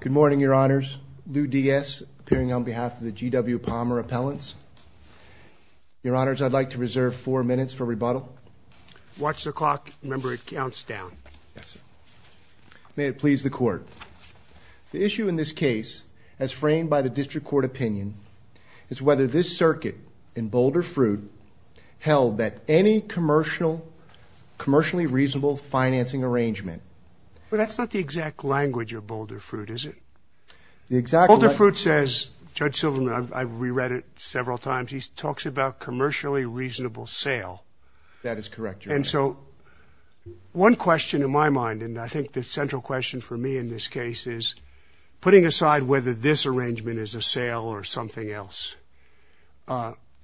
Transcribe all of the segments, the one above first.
Good morning, Your Honors. Lou Diaz, appearing on behalf of the G.W. Palmer Appellants. Your Honors, I'd like to reserve four minutes for rebuttal. Watch the clock. Remember, it counts down. May it please the Court. The issue in this case, as framed by the District Court opinion, is whether this circuit in Boulder Fruit held that any commercially reasonable financing arrangement? Well, that's not the exact language of Boulder Fruit, is it? The exact language... Boulder Fruit says, Judge Silverman, I've re-read it several times, he talks about commercially reasonable sale. That is correct, Your Honor. And so, one question in my mind, and I think the central question for me in this case is, putting aside whether this arrangement is a sale or something else,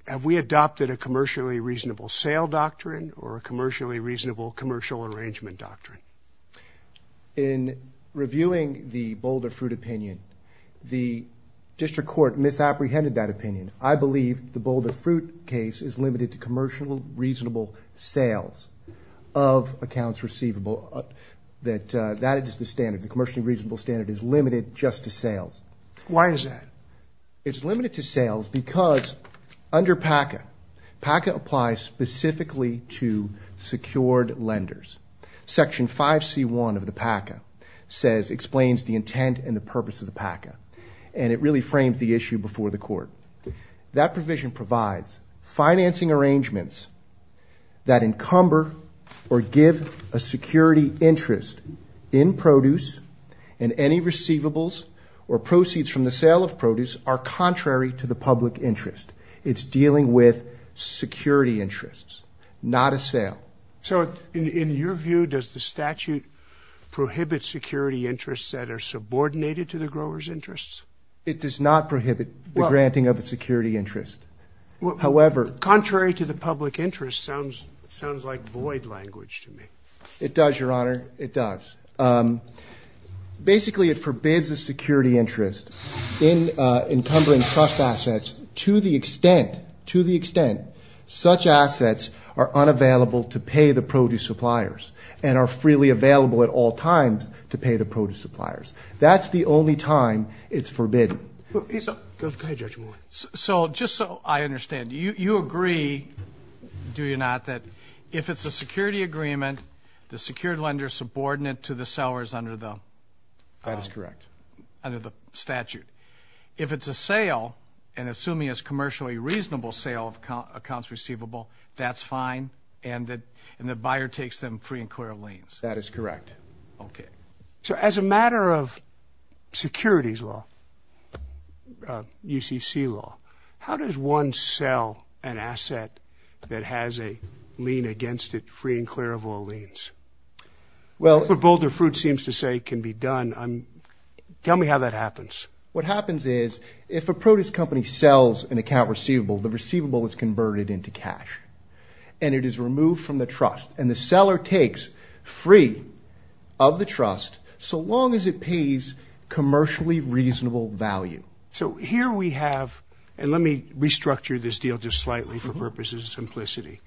have we adopted a commercially reasonable sale doctrine or a commercially reasonable commercial arrangement doctrine? In reviewing the Boulder Fruit opinion, the District Court misapprehended that opinion. I believe the Boulder Fruit case is limited to commercial reasonable sales of accounts receivable. That is the standard. The commercially reasonable standard is limited just to sales. Why is that? It's limited to sales because, under PACA, PACA applies specifically to secured lenders. Section 5c1 of the PACA explains the intent and the purpose of the PACA, and it really frames the issue before the court. That provision provides financing arrangements that encumber or give a security interest in produce, and any receivables or proceeds from the sale of produce are contrary to the public interest. It's dealing with security interests, not a sale. So, in your view, does the statute prohibit security interests that are subordinated to the growers' interests? It does not prohibit the granting of a security interest. However... Contrary to the public interest sounds like void language to me. It does, Your Honor. It does. Basically, it forbids a security interest in encumbering trust assets to the extent, such assets are unavailable to pay the produce suppliers and are freely available at all times to pay the produce suppliers. That's the only time it's forbidden. So, just so I understand, you agree, do you not, that if it's a security agreement, the secured lender is subordinate to the sellers under the... That is correct. ...under the statute. If it's a sale, and assuming it's a commercially reasonable sale of accounts receivable, that's fine, and that the buyer takes them free and clear of liens? That is correct. Okay. So, as a matter of securities law, UCC law, how does one sell an asset that has a lien against it free and clear of all liens? Well... What Boulder Fruit seems to say can be done. Tell me how that happens. What happens is, if a produce company sells an account receivable, the receivable is converted into cash, and it is removed from the trust, and the seller takes free of the trust so long as it pays commercially reasonable value. So, here we have, and let me restructure this deal just slightly for purposes of simplicity.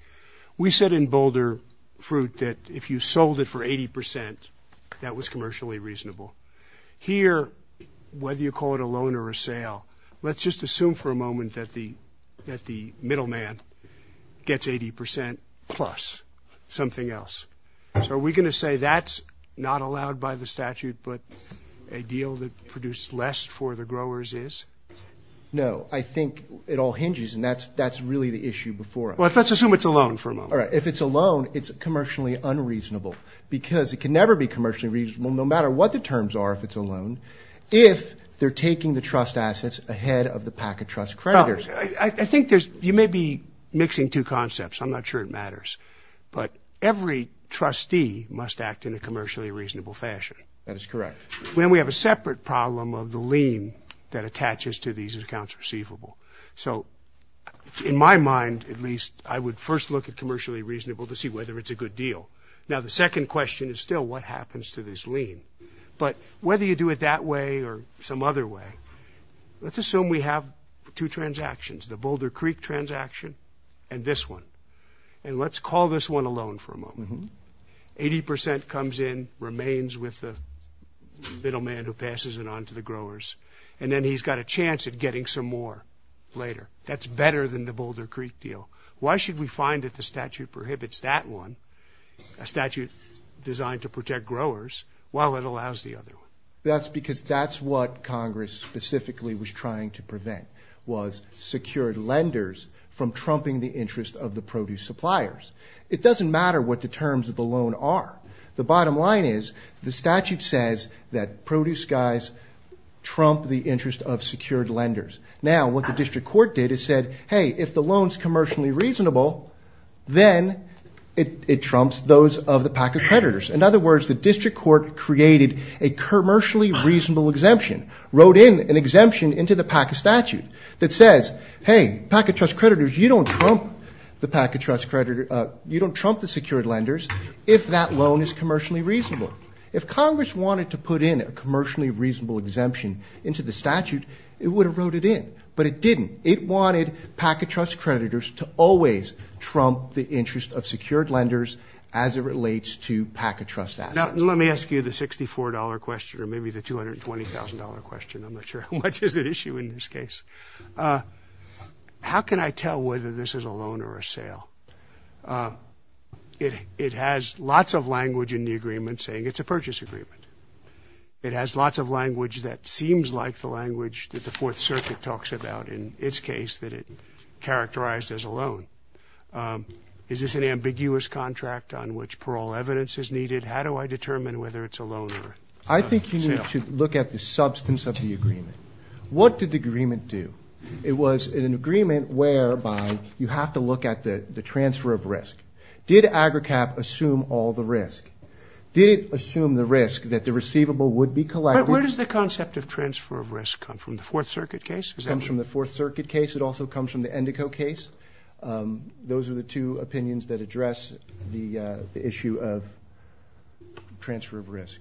We said in Boulder Fruit that if you sold it for 80%, that was commercially reasonable. Here, whether you call it a moment that the middleman gets 80% plus something else. So, are we going to say that's not allowed by the statute, but a deal that produced less for the growers is? No. I think it all hinges, and that's really the issue before us. Well, let's assume it's a loan for a moment. All right. If it's a loan, it's commercially unreasonable, because it can never be commercially reasonable, no matter what the terms are, if it's a loan, if they're taking the trust assets ahead of the pack of trust creditors. I think there's, you may be mixing two concepts. I'm not sure it matters, but every trustee must act in a commercially reasonable fashion. That is correct. Then we have a separate problem of the lien that attaches to these accounts receivable. So, in my mind, at least, I would first look at commercially reasonable to see whether it's a good deal. Now, the second question is still what happens to this lien, but whether you do it that way or some other way. Let's assume we have two transactions, the Boulder Creek transaction and this one, and let's call this one a loan for a moment. 80% comes in, remains with the middleman who passes it on to the growers, and then he's got a chance at getting some more later. That's better than the Boulder Creek deal. Why should we find that the statute prohibits that one, a statute designed to protect growers, while it allows the other one? That's because that's what Congress specifically was trying to prevent, was secured lenders from trumping the interest of the produce suppliers. It doesn't matter what the terms of the loan are. The bottom line is, the statute says that produce guys trump the interest of secured lenders. Now, what the district court did is said, hey, if the loan is commercially reasonable, then it trumps those of the pack of creditors. In other words, the district court created a commercially reasonable exemption, wrote in an exemption into the PACA statute that says, hey, PACA trust creditors, you don't trump the PACA trust creditors, you don't trump the secured lenders if that loan is commercially reasonable. If Congress wanted to put in a commercially reasonable exemption into the statute, it would have wrote it in, but it didn't. It wanted PACA trust creditors to always trump the interest of secured lenders as it relates to PACA trust assets. Now, let me ask you the $64 question or maybe the $220,000 question. I'm not sure how much is at issue in this case. How can I tell whether this is a loan or a sale? It has lots of language in the agreement saying it's a purchase agreement. It has lots of language that seems like the language that the Fourth Circuit talks about in its case that it characterized as a loan. Is this an ambiguous contract on which overall evidence is needed? How do I determine whether it's a loan or a sale? I think you need to look at the substance of the agreement. What did the agreement do? It was an agreement whereby you have to look at the transfer of risk. Did AGRICAP assume all the risk? Did it assume the risk that the receivable would be collected? But where does the concept of transfer of risk come from? The Fourth Circuit case? It comes from the Fourth Circuit case. It also comes from the Endico case. Those are the two opinions that address the issue of transfer of risk.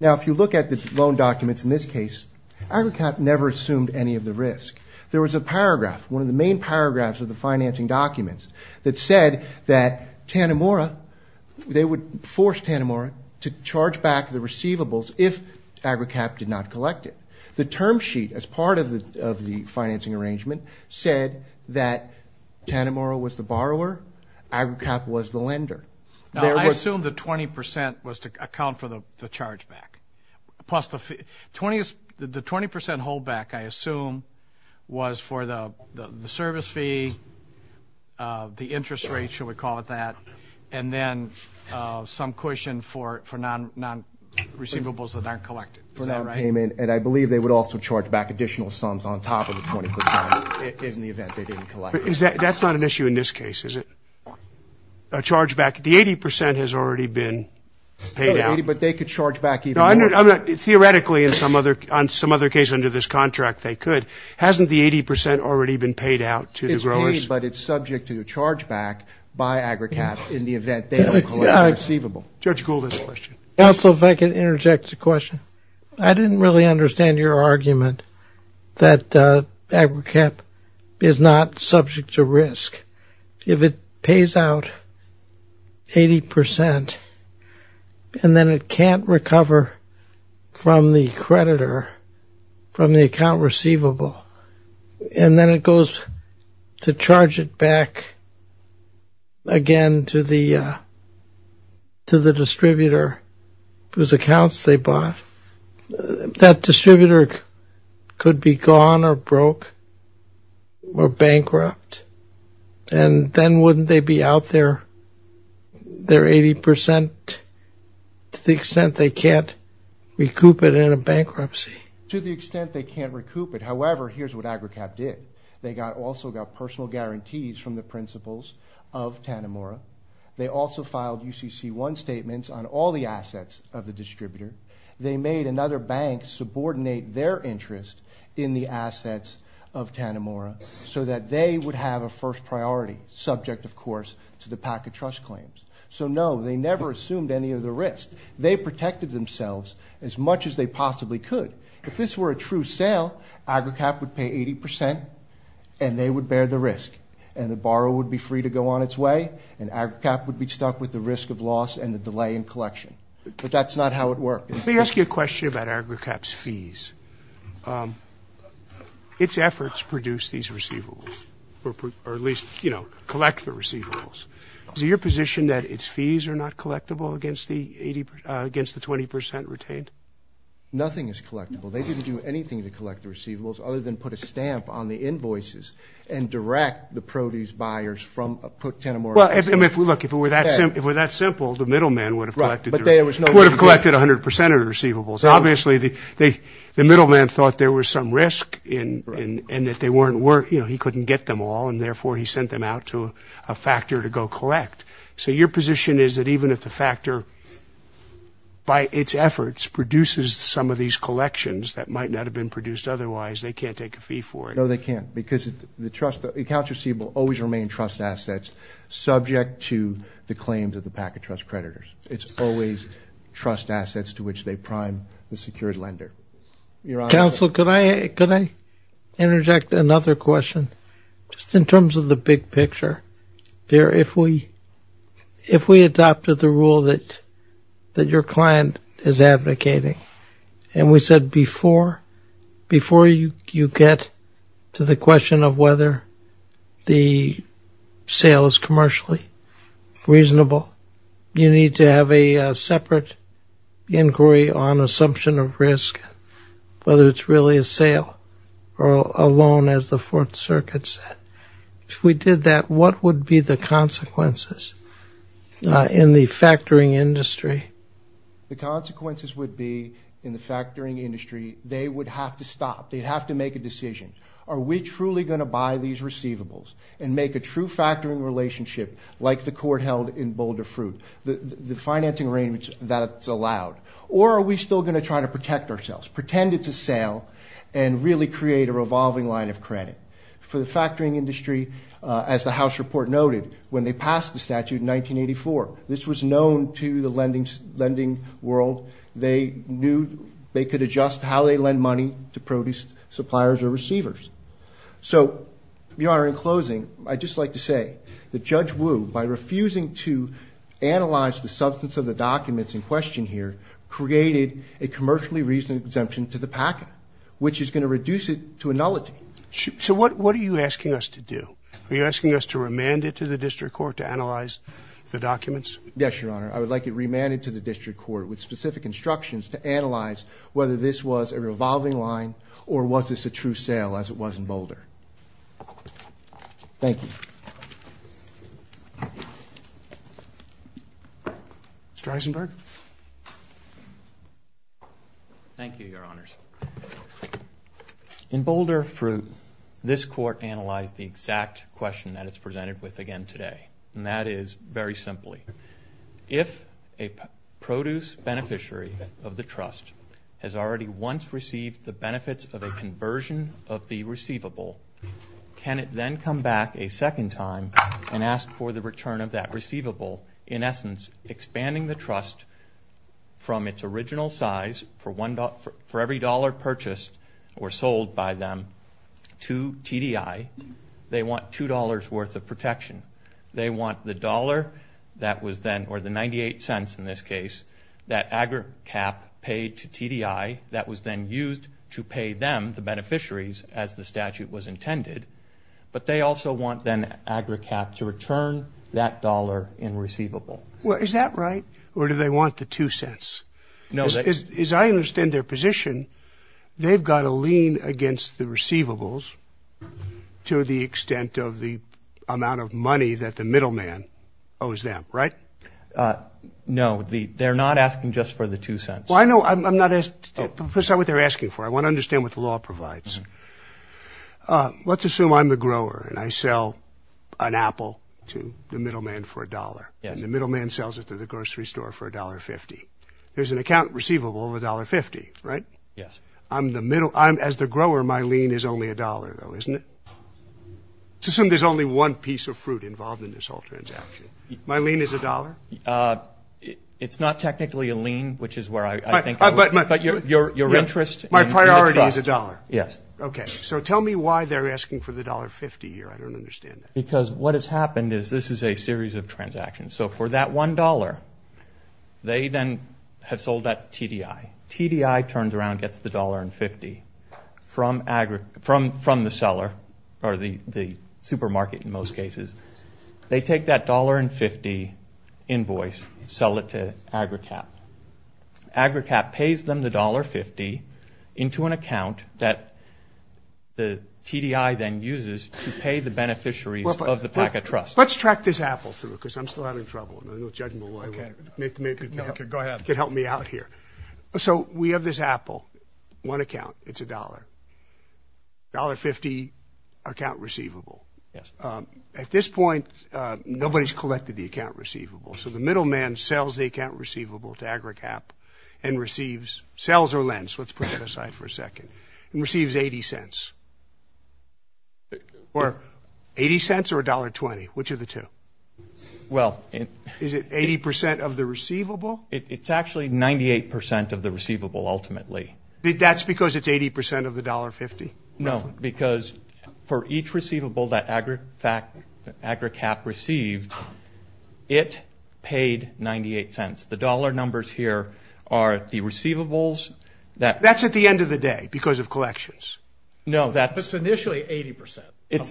Now if you look at the loan documents in this case, AGRICAP never assumed any of the risk. There was a paragraph, one of the main paragraphs of the financing documents that said that Tanimura, they would force Tanimura to charge back the receivables if AGRICAP did not collect it. The term sheet as part of the financing arrangement said that Tanimura was the borrower, AGRICAP was the lender. Now I assume the 20% was to account for the charge back. Plus the 20% hold back, I assume, was for the service fee, the interest rate, shall we call it that, and then some cushion for non-receivables that aren't collected. Is that right? charge back additional sums on top of the 20% in the event they didn't collect it. That's not an issue in this case, is it? A charge back? The 80% has already been paid out. But they could charge back even more. Theoretically, in some other case under this contract, they could. Hasn't the 80% already been paid out to the growers? It's paid, but it's subject to charge back by AGRICAP in the event they don't collect the receivable. Judge Gould has a question. Counsel, if I could interject a question. I didn't really understand your argument that AGRICAP is not subject to risk. If it pays out 80%, and then it can't recover from the creditor, from the account receivable, and then it goes to charge it back again to the distributor whose accounts they bought, that distributor could be gone or broke or bankrupt, and then wouldn't they be out their 80% to the extent they can't recoup it in a bankruptcy? To the extent they can't recoup it. However, here's what AGRICAP did. They also got personal guarantees from the principals of Tanimura. They also filed UCC1 statements on all the assets of the distributor. They made another bank subordinate their interest in the assets of Tanimura so that they would have a first priority, subject, of course, to the PACA trust claims. So no, they never assumed any of the risk. They protected themselves as much as they possibly could. If this were a true sale, AGRICAP would pay 80%, and they would bear the risk, and the borrower would be free to go on its way, and AGRICAP would be stuck with the risk of loss and the delay in collection. But that's not how it worked. Let me ask you a question about AGRICAP's fees. Its efforts produce these receivables, or at least, you know, collect the receivables. Is it your position that its fees are not collectible against the 20% retained? Nothing is collectible. They didn't do anything to collect the receivables other than put a stamp on the invoices and direct the produce buyers from Tanimura. Well, look, if it were that simple, the middleman would have collected 100% of the receivables. Obviously, the middleman thought there was some risk and that they weren't worth, you know, he couldn't get them all, and therefore, he sent them out to a factor to go collect. So your position is that even if the factor, by its efforts, produces some of these collections that might not have been produced otherwise, they can't take a fee for it? No, they can't, because the accounts receivable always remain trust assets subject to the claims of the Packet Trust creditors. It's always trust assets to which they prime the secured lender. Counsel, could I interject another question? Just in terms of the big picture, if we adopted the rule that your client is advocating, and we said before you get to the question of whether the sale is commercially reasonable, you need to have a separate inquiry on assumption of risk, whether it's really a sale or a loan, as what would be the consequences in the factoring industry? The consequences would be, in the factoring industry, they would have to stop. They'd have to make a decision. Are we truly going to buy these receivables and make a true factoring relationship like the court held in Boulder Fruit, the financing arrangements that's allowed, or are we still going to try to protect ourselves, pretend it's a sale, and really create a revolving line of credit? For the factoring industry, as the House report noted, when they passed the statute in 1984, this was known to the lending world. They knew they could adjust how they lend money to produce suppliers or receivers. So, Your Honor, in closing, I'd just like to say that Judge Wu, by refusing to analyze the substance of the documents in question here, created a commercially reasonable exemption to the packet, which is going to reduce it to a nullity. So what are you asking us to do? Are you asking us to remand it to the district court to analyze the documents? Yes, Your Honor. I would like it remanded to the district court with specific instructions to analyze whether this was a revolving line or was this a true sale, as it was in Boulder. Thank you. Mr. Eisenberg. Thank you, Your Honors. In Boulder Fruit, this court analyzed the exact question that it's presented with again today, and that is, very simply, if a produce beneficiary of the trust has already once received the benefits of a conversion of the receivable, can it then come back a second time and ask for the return of that receivable, in essence, expanding the trust from its original size for every dollar purchased or sold by them to TDI. They want $2 worth of protection. They want the dollar that was then, or the 98 cents in this case, that agri-cap paid to TDI that was then used to pay them, the beneficiaries, as the statute was intended, but they also want then agri-cap to return that dollar in receivable. Well, is that right? Or do they want the two cents? No. As I understand their position, they've got to lean against the receivables to the extent of the amount of money that the middleman owes them, right? No. They're not asking just for the two cents. Well, I know. I'm not asking. That's not what they're asking for. I want to understand what the law provides. Let's assume I'm the grower and I sell an apple to the middleman for a dollar, and the middleman sells it to the grocery store for $1.50. There's an account receivable of $1.50, right? Yes. As the grower, my lien is only $1, though, isn't it? Let's assume there's only one piece of fruit involved in this whole transaction. My lien is $1? It's not technically a lien, which is where I think it is. But your interest in the trust. My priority is $1? Yes. Okay, so tell me why they're asking for the $1.50 here. I don't understand that. Because what has happened is this is a series of transactions. So for that $1, they then have sold that TDI. TDI turns around and gets the $1.50 from the seller, or the supermarket in most cases. They take that $1.50 invoice, sell it to AgriCap. AgriCap pays them the $1.50 into an account that the TDI then uses to pay the beneficiaries of the Packet Trust. Let's track this apple through because I'm still having trouble. There's no judgment. Go ahead. You can help me out here. So we have this apple, one account. It's $1.00. $1.50 account receivable. Yes. At this point, nobody's collected the account receivable. So the middleman sells the account receivable to AgriCap and receives, sells or lends, let's put that aside for a second, and receives $0.80. $0.80 or $1.20? Which are the two? Is it 80% of the receivable? It's actually 98% of the receivable ultimately. That's because it's 80% of the $1.50? No, because for each receivable that AgriCap received, it paid $0.98. The dollar numbers here are the receivables. That's at the end of the day because of collections. No, that's – But it's initially 80%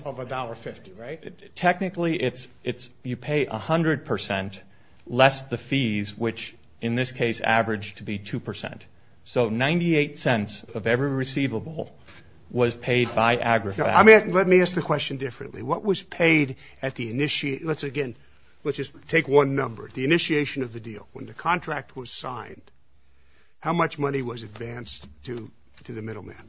of $1.50, right? Technically, it's you pay 100% less the fees, which in this case averaged to be 2%. So $0.98 of every receivable was paid by AgriCap. Let me ask the question differently. What was paid at the – let's again, let's just take one number, the initiation of the deal. When the contract was signed, how much money was advanced to the middleman?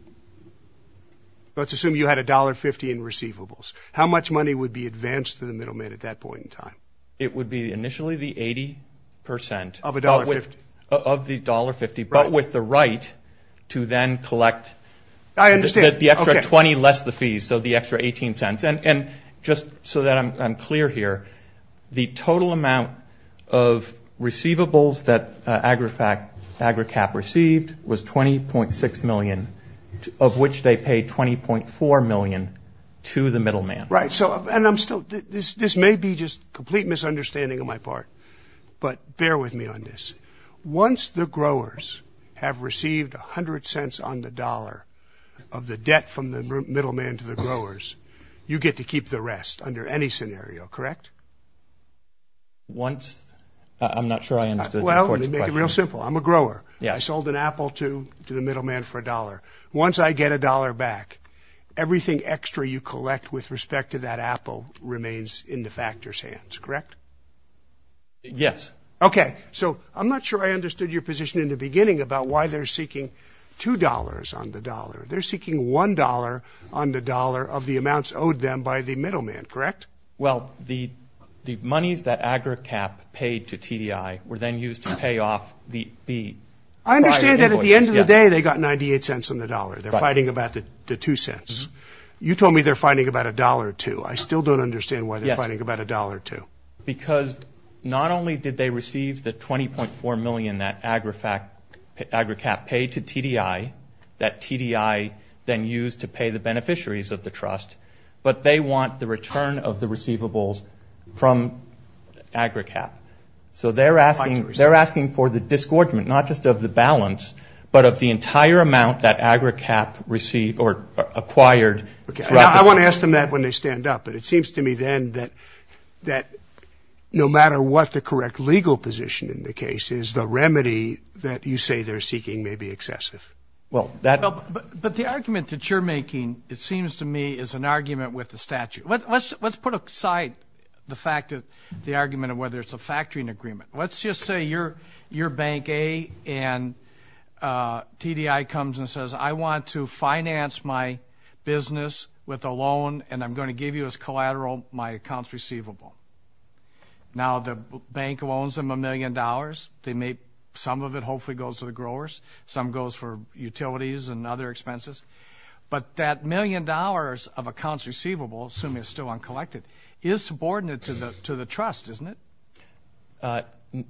Let's assume you had $1.50 in receivables. How much money would be advanced to the middleman at that point in time? It would be initially the 80% of the $1.50, but with the right to then collect the extra 20 less the fees, so the extra 18 cents. And just so that I'm clear here, the total amount of receivables that AgriCap received was $20.6 million, of which they paid $20.4 million to the middleman. Right. So – and I'm still – this may be just complete misunderstanding on my part, but bear with me on this. Once the growers have received 100 cents on the dollar of the debt from the middleman to the growers, you get to keep the rest under any scenario, correct? Once – I'm not sure I understood your question. Well, let me make it real simple. I'm a grower. I sold an apple to the middleman for $1. Once I get $1 back, everything extra you collect with respect to that apple remains in the factor's hands, correct? Yes. Okay. So I'm not sure I understood your position in the beginning about why they're seeking $2 on the dollar. They're seeking $1 on the dollar of the amounts owed them by the middleman, correct? Well, the monies that AgriCap paid to TDI were then used to pay off the prior invoices. I understand that at the end of the day they got 98 cents on the dollar. They're fighting about the two cents. You told me they're fighting about $1.02. I still don't understand why they're fighting about $1.02. Because not only did they receive the $20.4 million that AgriCap paid to TDI, that TDI then used to pay the beneficiaries of the trust, but they want the return of the receivables from AgriCap. So they're asking for the disgorgement, not just of the balance, but of the entire amount that AgriCap received or acquired. I won't ask them that when they stand up, but it seems to me then that no matter what the correct legal position in the case is, the remedy that you say they're seeking may be excessive. But the argument that you're making, it seems to me, is an argument with the statute. Let's put aside the argument of whether it's a factoring agreement. Let's just say you're bank A and TDI comes and says, I want to finance my business with a loan and I'm going to give you as collateral my accounts receivable. Now, the bank loans them a million dollars. Some of it hopefully goes to the growers. Some goes for utilities and other expenses. But that million dollars of accounts receivable, assuming it's still uncollected, is subordinate to the trust, isn't it?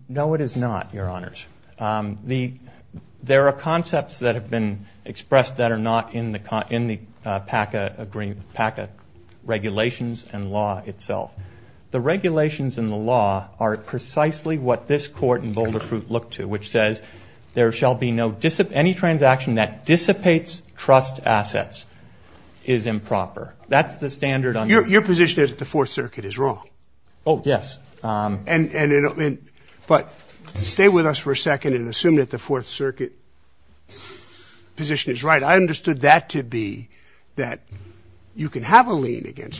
No, it is not, Your Honors. There are concepts that have been expressed that are not in the PACA regulations and law itself. The regulations and the law are precisely what this Court in Boulder Fruit looked to, which says there shall be no any transaction that dissipates trust assets is improper. Your position is that the Fourth Circuit is wrong. Oh, yes. But stay with us for a second and assume that the Fourth Circuit position is right. I understood that to be that you can have a lien against me.